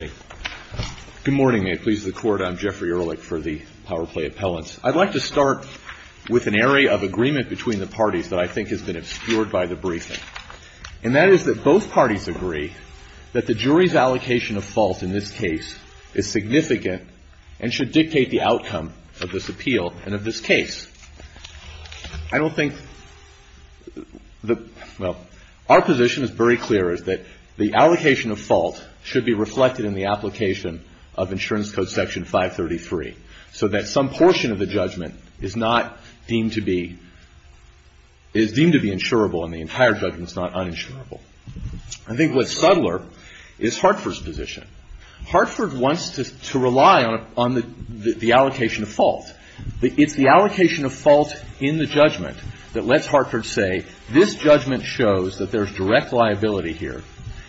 Good morning, may it please the Court. I'm Jeffrey Ehrlich for the POWER PLAY appellants. I'd like to start with an area of agreement between the parties that I think has been obscured by the briefing. And that is that both parties agree that the jury's allocation of fault in this case is significant and should dictate the outcome of this appeal and of this case. I don't think – well, our position is very clear, is that the allocation of fault should be reflected in the application of Insurance Code Section 533. So that some portion of the judgment is not deemed to be – is deemed to be insurable and the entire judgment is not uninsurable. I think what's subtler is HARTFORD's position. HARTFORD wants to rely on the allocation of fault. It's the allocation of fault in the judgment that lets HARTFORD say, this judgment shows that there's direct liability here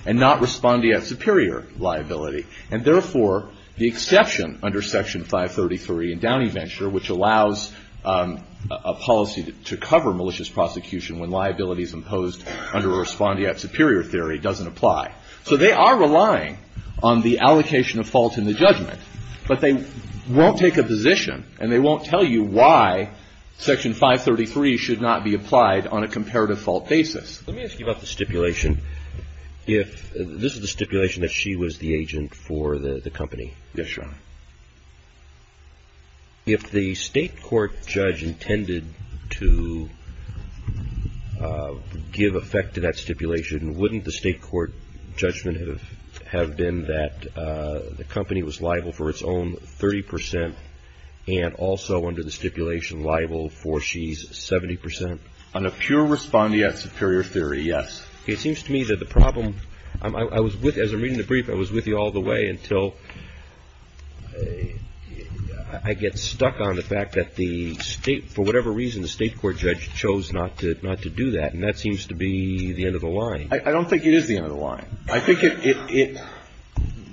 and not respondeat superior liability. And therefore, the exception under Section 533 in Downey Venture, which allows a policy to cover malicious prosecution when liability is imposed under a respondeat superior theory, doesn't apply. So they are relying on the allocation of fault in the judgment, but they won't take a position and they won't tell you why Section 533 should not be applied on a comparative fault basis. Let me ask you about the stipulation. If – this is the stipulation that she was the agent for the company. Yes, Your Honor. If the state court judge intended to give effect to that stipulation, wouldn't the state court judgment have been that the company was liable for its own 30 percent and also under the stipulation liable for she's 70 percent? On a pure respondeat superior theory, yes. It seems to me that the problem – I was with – as I'm reading the brief, I was with you all the way until I get stuck on the fact that the state – for whatever reason, the state court judge chose not to do that. And that seems to be the end of the line. I don't think it is the end of the line. I think it –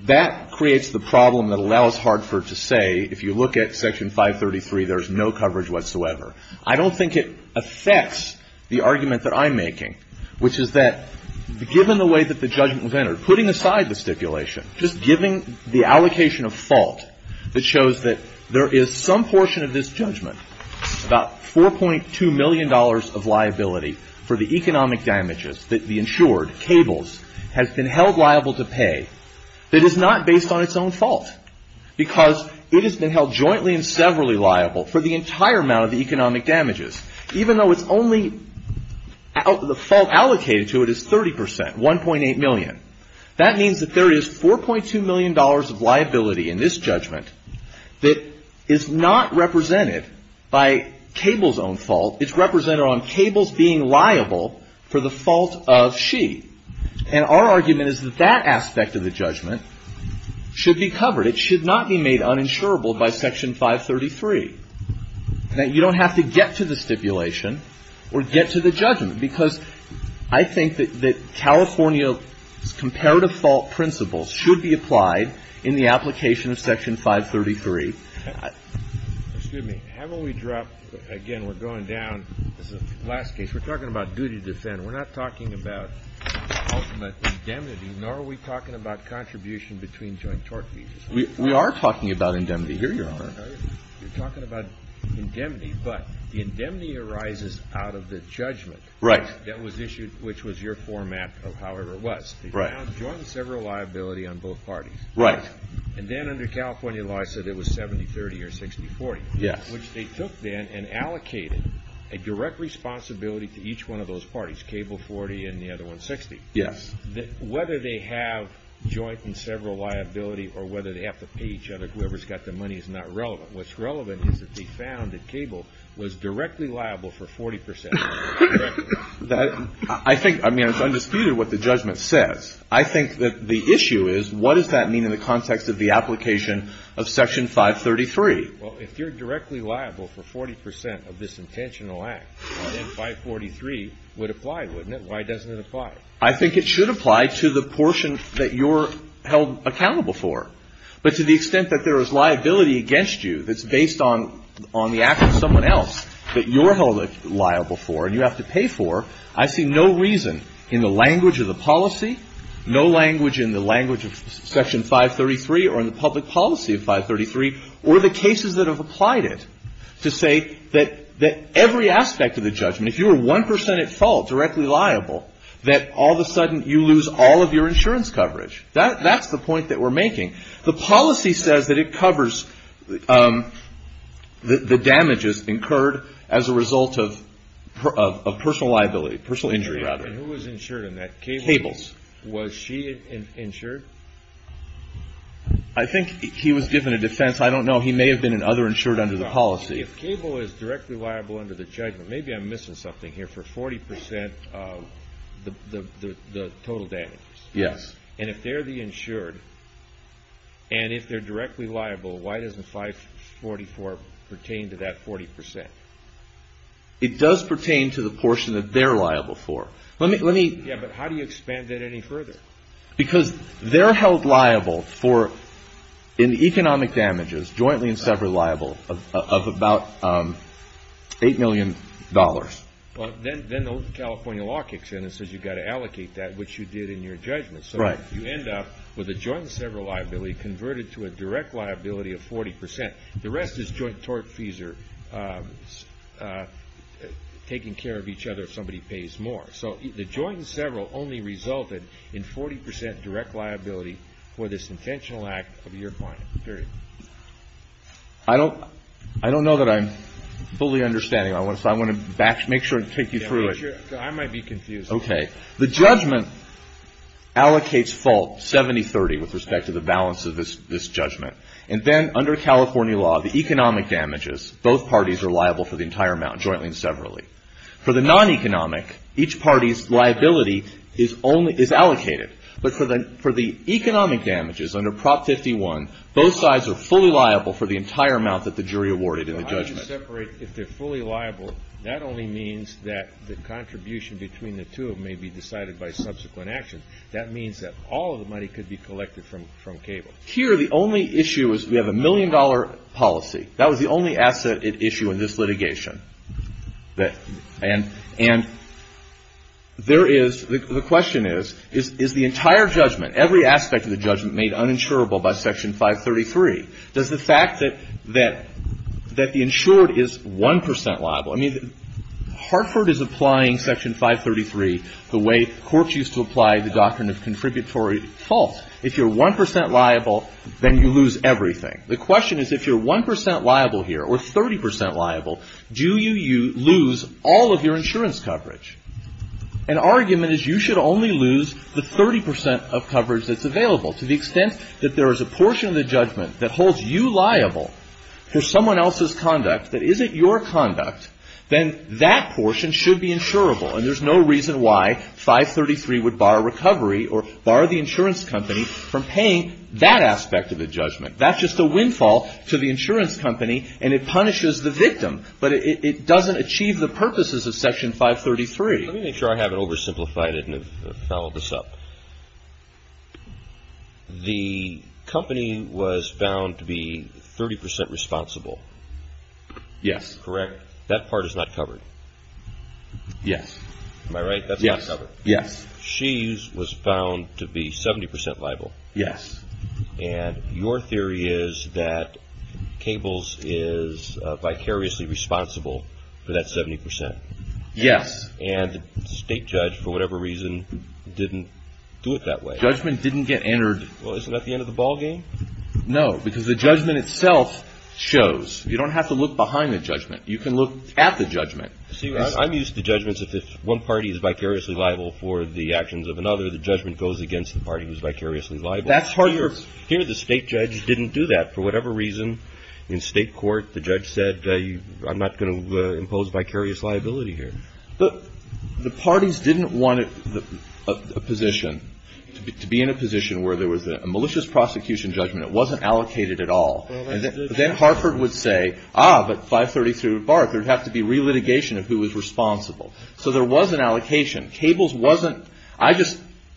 that creates the problem that allows HARTFORD to say, if you look at Section 533, there's no coverage whatsoever. I don't think it affects the argument that I'm making, which is that given the way that the judgment was entered, putting aside the stipulation, just giving the allocation of fault that shows that there is some portion of this judgment, about $4.2 million of liability for the economic damages that the insured, cables, has been held liable to pay that is not based on its own fault because it has been held jointly and severally liable for the entire amount of the economic damages, even though it's only – the fault allocated to it is 30%, 1.8 million. That means that there is $4.2 million of liability in this judgment that is not represented by cables' own fault. It's represented on cables being liable for the fault of she. And our argument is that that aspect of the judgment should be covered. It should not be made uninsurable by Section 533, that you don't have to get to the stipulation or get to the judgment because I think that California's comparative fault principles should be applied in the application of Section 533. Excuse me. Haven't we dropped – again, we're going down. This is the last case. We're talking about duty to defend. We're not talking about ultimate indemnity, nor are we talking about contribution between joint tort fees. We are talking about indemnity. Here you are. You're talking about indemnity, but the indemnity arises out of the judgment that was issued, which was your format of however it was. Right. They found joint and sever liability on both parties. Right. And then under California law it said it was 70-30 or 60-40. Yes. Which they took then and allocated a direct responsibility to each one of those parties, cable 40 and the other one 60. Yes. Whether they have joint and several liability or whether they have to pay each other, whoever's got the money is not relevant. What's relevant is that they found that cable was directly liable for 40%. I think – I mean, it's undisputed what the judgment says. I think that the issue is what does that mean in the context of the application of Section 533? Well, if you're directly liable for 40% of this intentional act, then 543 would apply, wouldn't it? Why doesn't it apply? I think it should apply to the portion that you're held accountable for. But to the extent that there is liability against you that's based on the act of someone else that you're held liable for and you have to pay for, I see no reason in the language of the policy, no language in the language of Section 533 or in the public policy of 533, or the cases that have applied it, to say that every aspect of the judgment, if you were 1% at fault, directly liable, that all of a sudden you lose all of your insurance coverage. That's the point that we're making. The policy says that it covers the damages incurred as a result of personal liability, personal injury, rather. Who was insured in that? Cables. Was she insured? I think he was given a defense. I don't know. He may have been another insured under the policy. If cable is directly liable under the judgment, maybe I'm missing something here, for 40% of the total damages. Yes. And if they're the insured and if they're directly liable, why doesn't 544 pertain to that 40%? It does pertain to the portion that they're liable for. Yeah, but how do you expand that any further? Because they're held liable for economic damages, jointly and separately liable, of about $8 million. Then the California law kicks in and says you've got to allocate that, which you did in your judgment. So you end up with a joint and several liability converted to a direct liability of 40%. The rest is joint tort fees or taking care of each other if somebody pays more. So the joint and several only resulted in 40% direct liability for this intentional act of your client, period. I don't know that I'm fully understanding. I want to make sure and take you through it. I might be confused. Okay. The judgment allocates fault 70-30 with respect to the balance of this judgment. And then under California law, the economic damages, both parties are liable for the entire amount jointly and severally. For the non-economic, each party's liability is allocated. But for the economic damages under Prop 51, both sides are fully liable for the entire amount that the jury awarded in the judgment. How do you separate if they're fully liable? That only means that the contribution between the two may be decided by subsequent action. That means that all of the money could be collected from cable. Here the only issue is we have a million-dollar policy. That was the only asset at issue in this litigation. And there is the question is, is the entire judgment, every aspect of the judgment made uninsurable by Section 533? Does the fact that the insured is 1% liable? I mean, Hartford is applying Section 533 the way courts used to apply the doctrine of contributory fault. If you're 1% liable, then you lose everything. The question is if you're 1% liable here or 30% liable, do you lose all of your insurance coverage? An argument is you should only lose the 30% of coverage that's available. To the extent that there is a portion of the judgment that holds you liable for someone else's conduct that isn't your conduct, then that portion should be insurable. And there's no reason why 533 would bar recovery or bar the insurance company from paying that aspect of the judgment. That's just a windfall to the insurance company, and it punishes the victim. But it doesn't achieve the purposes of Section 533. Let me make sure I haven't oversimplified it and have followed this up. The company was found to be 30% responsible. Yes. Correct? That part is not covered. Yes. Am I right? That's not covered. Yes. She was found to be 70% liable. Yes. And your theory is that Cables is vicariously responsible for that 70%. Yes. And the state judge, for whatever reason, didn't do it that way. Judgment didn't get entered. Well, isn't that the end of the ballgame? No, because the judgment itself shows. You don't have to look behind the judgment. You can look at the judgment. See, I'm used to judgments if one party is vicariously liable for the actions of another, the judgment goes against the party who's vicariously liable. Here, the state judge didn't do that. For whatever reason, in state court, the judge said, I'm not going to impose vicarious liability here. But the parties didn't want a position, to be in a position where there was a malicious prosecution judgment. It wasn't allocated at all. Then Harford would say, ah, but 533 would bark. There would have to be relitigation of who was responsible. So there was an allocation.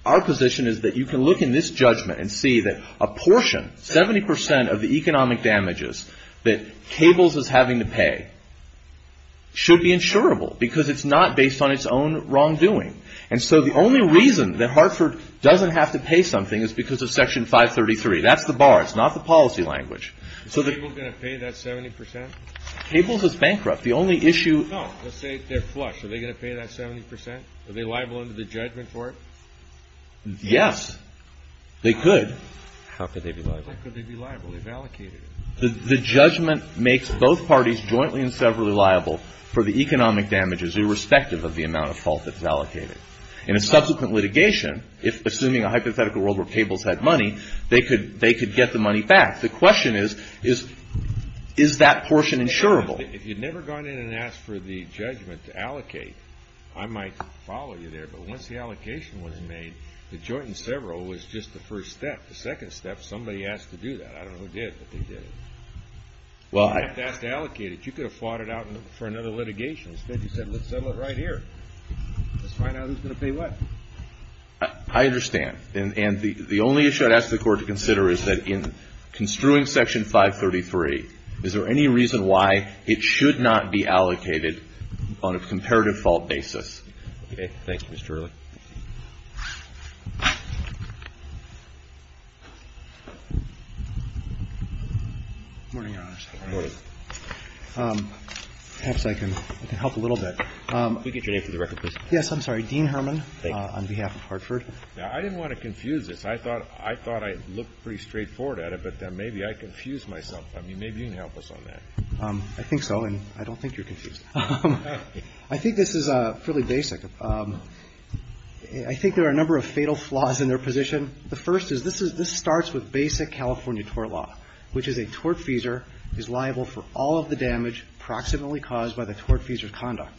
Our position is that you can look in this judgment and see that a portion, 70% of the economic damages, that Cables is having to pay should be insurable, because it's not based on its own wrongdoing. And so the only reason that Hartford doesn't have to pay something is because of Section 533. That's the bar. It's not the policy language. Are Cables going to pay that 70%? Cables is bankrupt. The only issue— No, let's say they're flush. Are they going to pay that 70%? Are they liable under the judgment for it? Yes, they could. How could they be liable? How could they be liable? They've allocated it. The judgment makes both parties jointly and severally liable for the economic damages, irrespective of the amount of fault that's allocated. In a subsequent litigation, assuming a hypothetical world where Cables had money, they could get the money back. The question is, is that portion insurable? If you'd never gone in and asked for the judgment to allocate, I might follow you there. But once the allocation was made, the joint and several was just the first step. The second step, somebody asked to do that. I don't know who did, but they did it. You didn't have to ask to allocate it. You could have fought it out for another litigation. Instead, you said, let's settle it right here. Let's find out who's going to pay what. I understand. And the only issue I'd ask the Court to consider is that in construing Section 533, is there any reason why it should not be allocated on a comparative fault basis? Okay. Thank you, Mr. Early. Good morning, Your Honors. Good morning. Perhaps I can help a little bit. Could we get your name for the record, please? Yes, I'm sorry. Dean Herman on behalf of Hartford. Thank you. Now, I didn't want to confuse this. I thought I looked pretty straightforward at it, but then maybe I confused myself. I mean, maybe you can help us on that. I think so, and I don't think you're confused. I think this is fairly basic. I think there are a number of fatal flaws in their position. The first is this starts with basic California tort law, which is a tortfeasor is liable for all of the damage proximately caused by the tortfeasor's conduct.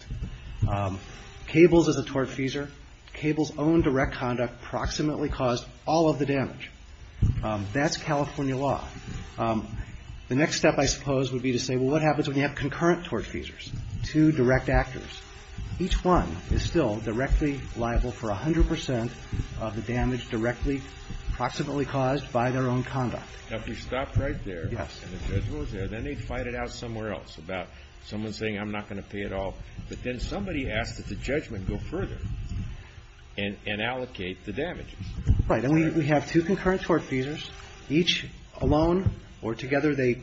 Cables is a tortfeasor. Cables' own direct conduct proximately caused all of the damage. That's California law. The next step, I suppose, would be to say, well, what happens when you have concurrent tortfeasors, two direct actors? Each one is still directly liable for 100 percent of the damage directly proximately caused by their own conduct. Now, if we stopped right there and the judgment was there, then they'd fight it out somewhere else about someone saying, I'm not going to pay it all. But then somebody asks that the judgment go further and allocate the damages. Right. Then we have two concurrent tortfeasors. Each alone or together, they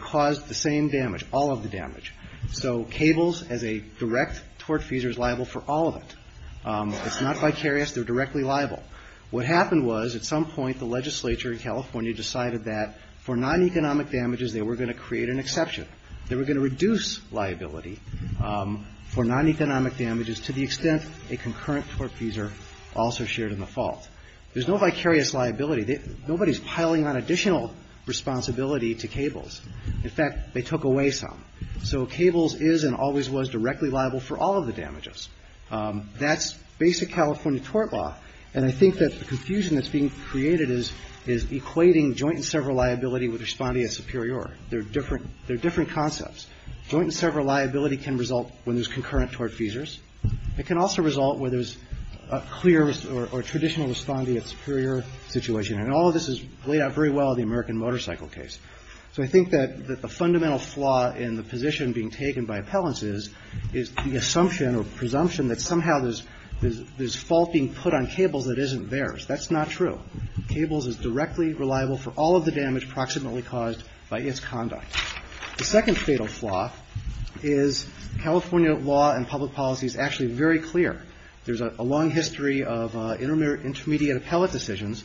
cause the same damage, all of the damage. So Cables, as a direct tortfeasor, is liable for all of it. It's not vicarious. They're directly liable. What happened was at some point the legislature in California decided that for non-economic damages, they were going to create an exception. They were going to reduce liability for non-economic damages to the extent a concurrent tortfeasor also shared in the fault. There's no vicarious liability. Nobody's piling on additional responsibility to Cables. In fact, they took away some. So Cables is and always was directly liable for all of the damages. That's basic California tort law. And I think that the confusion that's being created is equating joint and several liability with responding as superior. They're different concepts. Joint and several liability can result when there's concurrent tortfeasors. It can also result where there's a clear or traditional responding as superior situation. And all of this is laid out very well in the American Motorcycle case. So I think that the fundamental flaw in the position being taken by appellants is the assumption or presumption that somehow there's fault being put on Cables that isn't theirs. That's not true. Cables is directly reliable for all of the damage proximately caused by its conduct. The second fatal flaw is California law and public policy is actually very clear. There's a long history of intermediate appellate decisions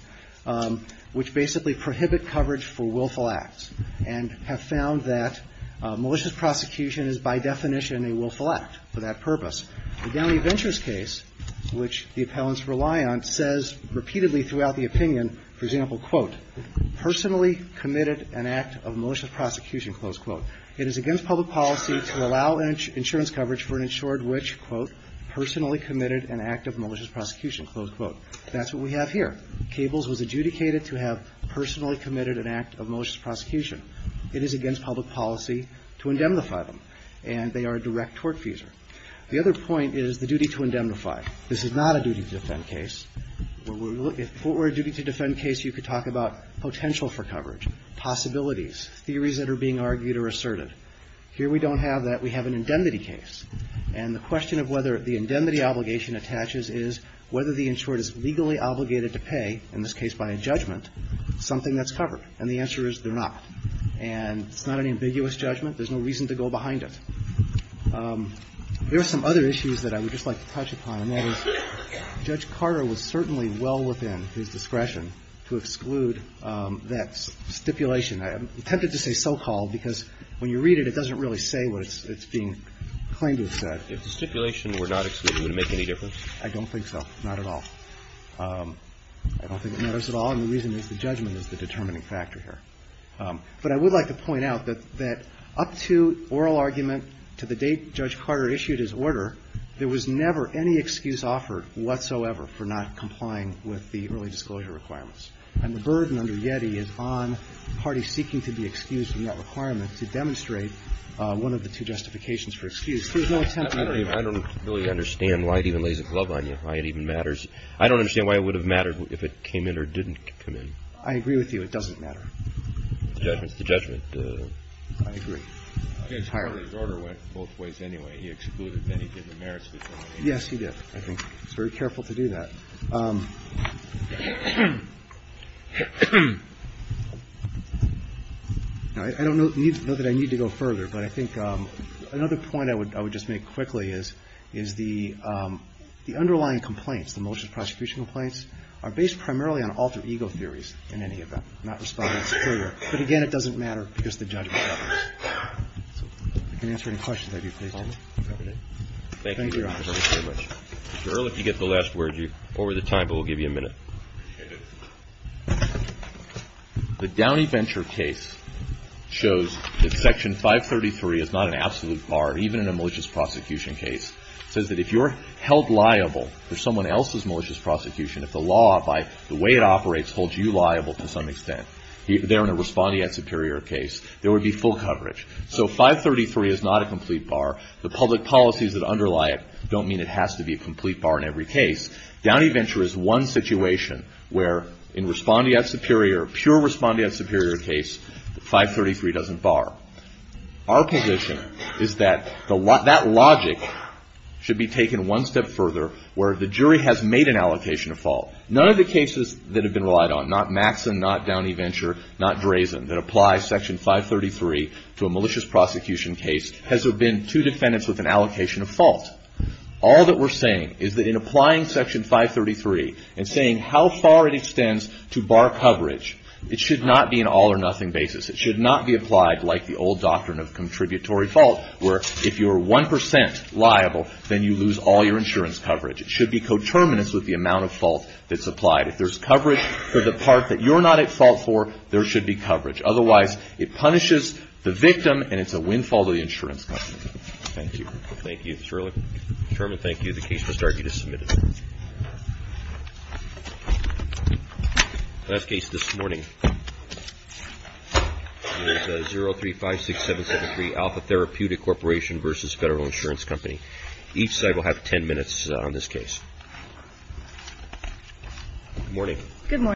which basically prohibit coverage for willful acts and have found that malicious prosecution is by definition a willful act for that purpose. The Downey Ventures case, which the appellants rely on, says repeatedly throughout the opinion, for example, quote, personally committed an act of malicious prosecution, close quote. It is against public policy to allow insurance coverage for an insured witch, quote, personally committed an act of malicious prosecution, close quote. That's what we have here. Cables was adjudicated to have personally committed an act of malicious prosecution. It is against public policy to indemnify them. And they are a direct tortfeasor. The other point is the duty to indemnify. This is not a duty to defend case. If it were a duty to defend case, you could talk about potential for coverage, possibilities, theories that are being argued or asserted. Here we don't have that. We have an indemnity case. And the question of whether the indemnity obligation attaches is whether the insured is legally obligated to pay, in this case by a judgment, something that's covered. And the answer is they're not. And it's not an ambiguous judgment. There's no reason to go behind it. There are some other issues that I would just like to touch upon, and that is Judge Carter was certainly well within his discretion to exclude that stipulation. I'm tempted to say so-called because when you read it, it doesn't really say what it's being claimed to have said. If the stipulation were not excluded, would it make any difference? I don't think so. Not at all. I don't think it matters at all. And the reason is the judgment is the determining factor here. But I would like to point out that up to oral argument to the date Judge Carter issued his order, there was never any excuse offered whatsoever for not complying with the early disclosure requirements. And the burden under YETI is on parties seeking to be excused from that requirement to demonstrate one of the two justifications for excuse. There's no attempt to do that. I don't really understand why it even lays a glove on you, why it even matters. I don't understand why it would have mattered if it came in or didn't come in. I agree with you. It doesn't matter. The judgment is the judgment. I agree. I guess Carter's order went both ways anyway. He excluded many different merits. Yes, he did, I think. He was very careful to do that. I don't know that I need to go further, but I think another point I would just make quickly is the underlying complaints, the malicious prosecution complaints, are based primarily on alter ego theories in any event, not responding superior. But again, it doesn't matter because the judgment matters. If you can answer any questions, I'd be pleased to. Thank you, Your Honor. Thank you very much. Mr. Earle, if you get the last word, you're over the time, but we'll give you a minute. The Downey Venture case shows that Section 533 is not an absolute bar, even in a malicious prosecution case. It says that if you're held liable for someone else's malicious prosecution, if the law, by the way it operates, holds you liable to some extent, there in a responding at superior case, there would be full coverage. So 533 is not a complete bar. The public policies that underlie it don't mean it has to be a complete bar in every case. Downey Venture is one situation where in responding at superior, pure responding at superior case, 533 doesn't bar. Our position is that that logic should be taken one step further where the jury has made an allocation of fault. None of the cases that have been relied on, not Maxson, not Downey Venture, not Drazen, that apply Section 533 to a malicious prosecution case has there been two defendants with an allocation of fault. All that we're saying is that in applying Section 533 and saying how far it extends to bar coverage, it should not be an all or nothing basis. It should not be applied like the old doctrine of contributory fault where if you're 1 percent liable, then you lose all your insurance coverage. It should be coterminous with the amount of fault that's applied. If there's coverage for the part that you're not at fault for, there should be coverage. Otherwise, it punishes the victim and it's a windfall to the insurance company. Thank you. Thank you, Sherlock. Chairman, thank you. The case must argue to submit it. The last case this morning is 0356773 Alpha Therapeutic Corporation v. Federal Insurance Company. Each side will have ten minutes on this case. Good morning. Good morning.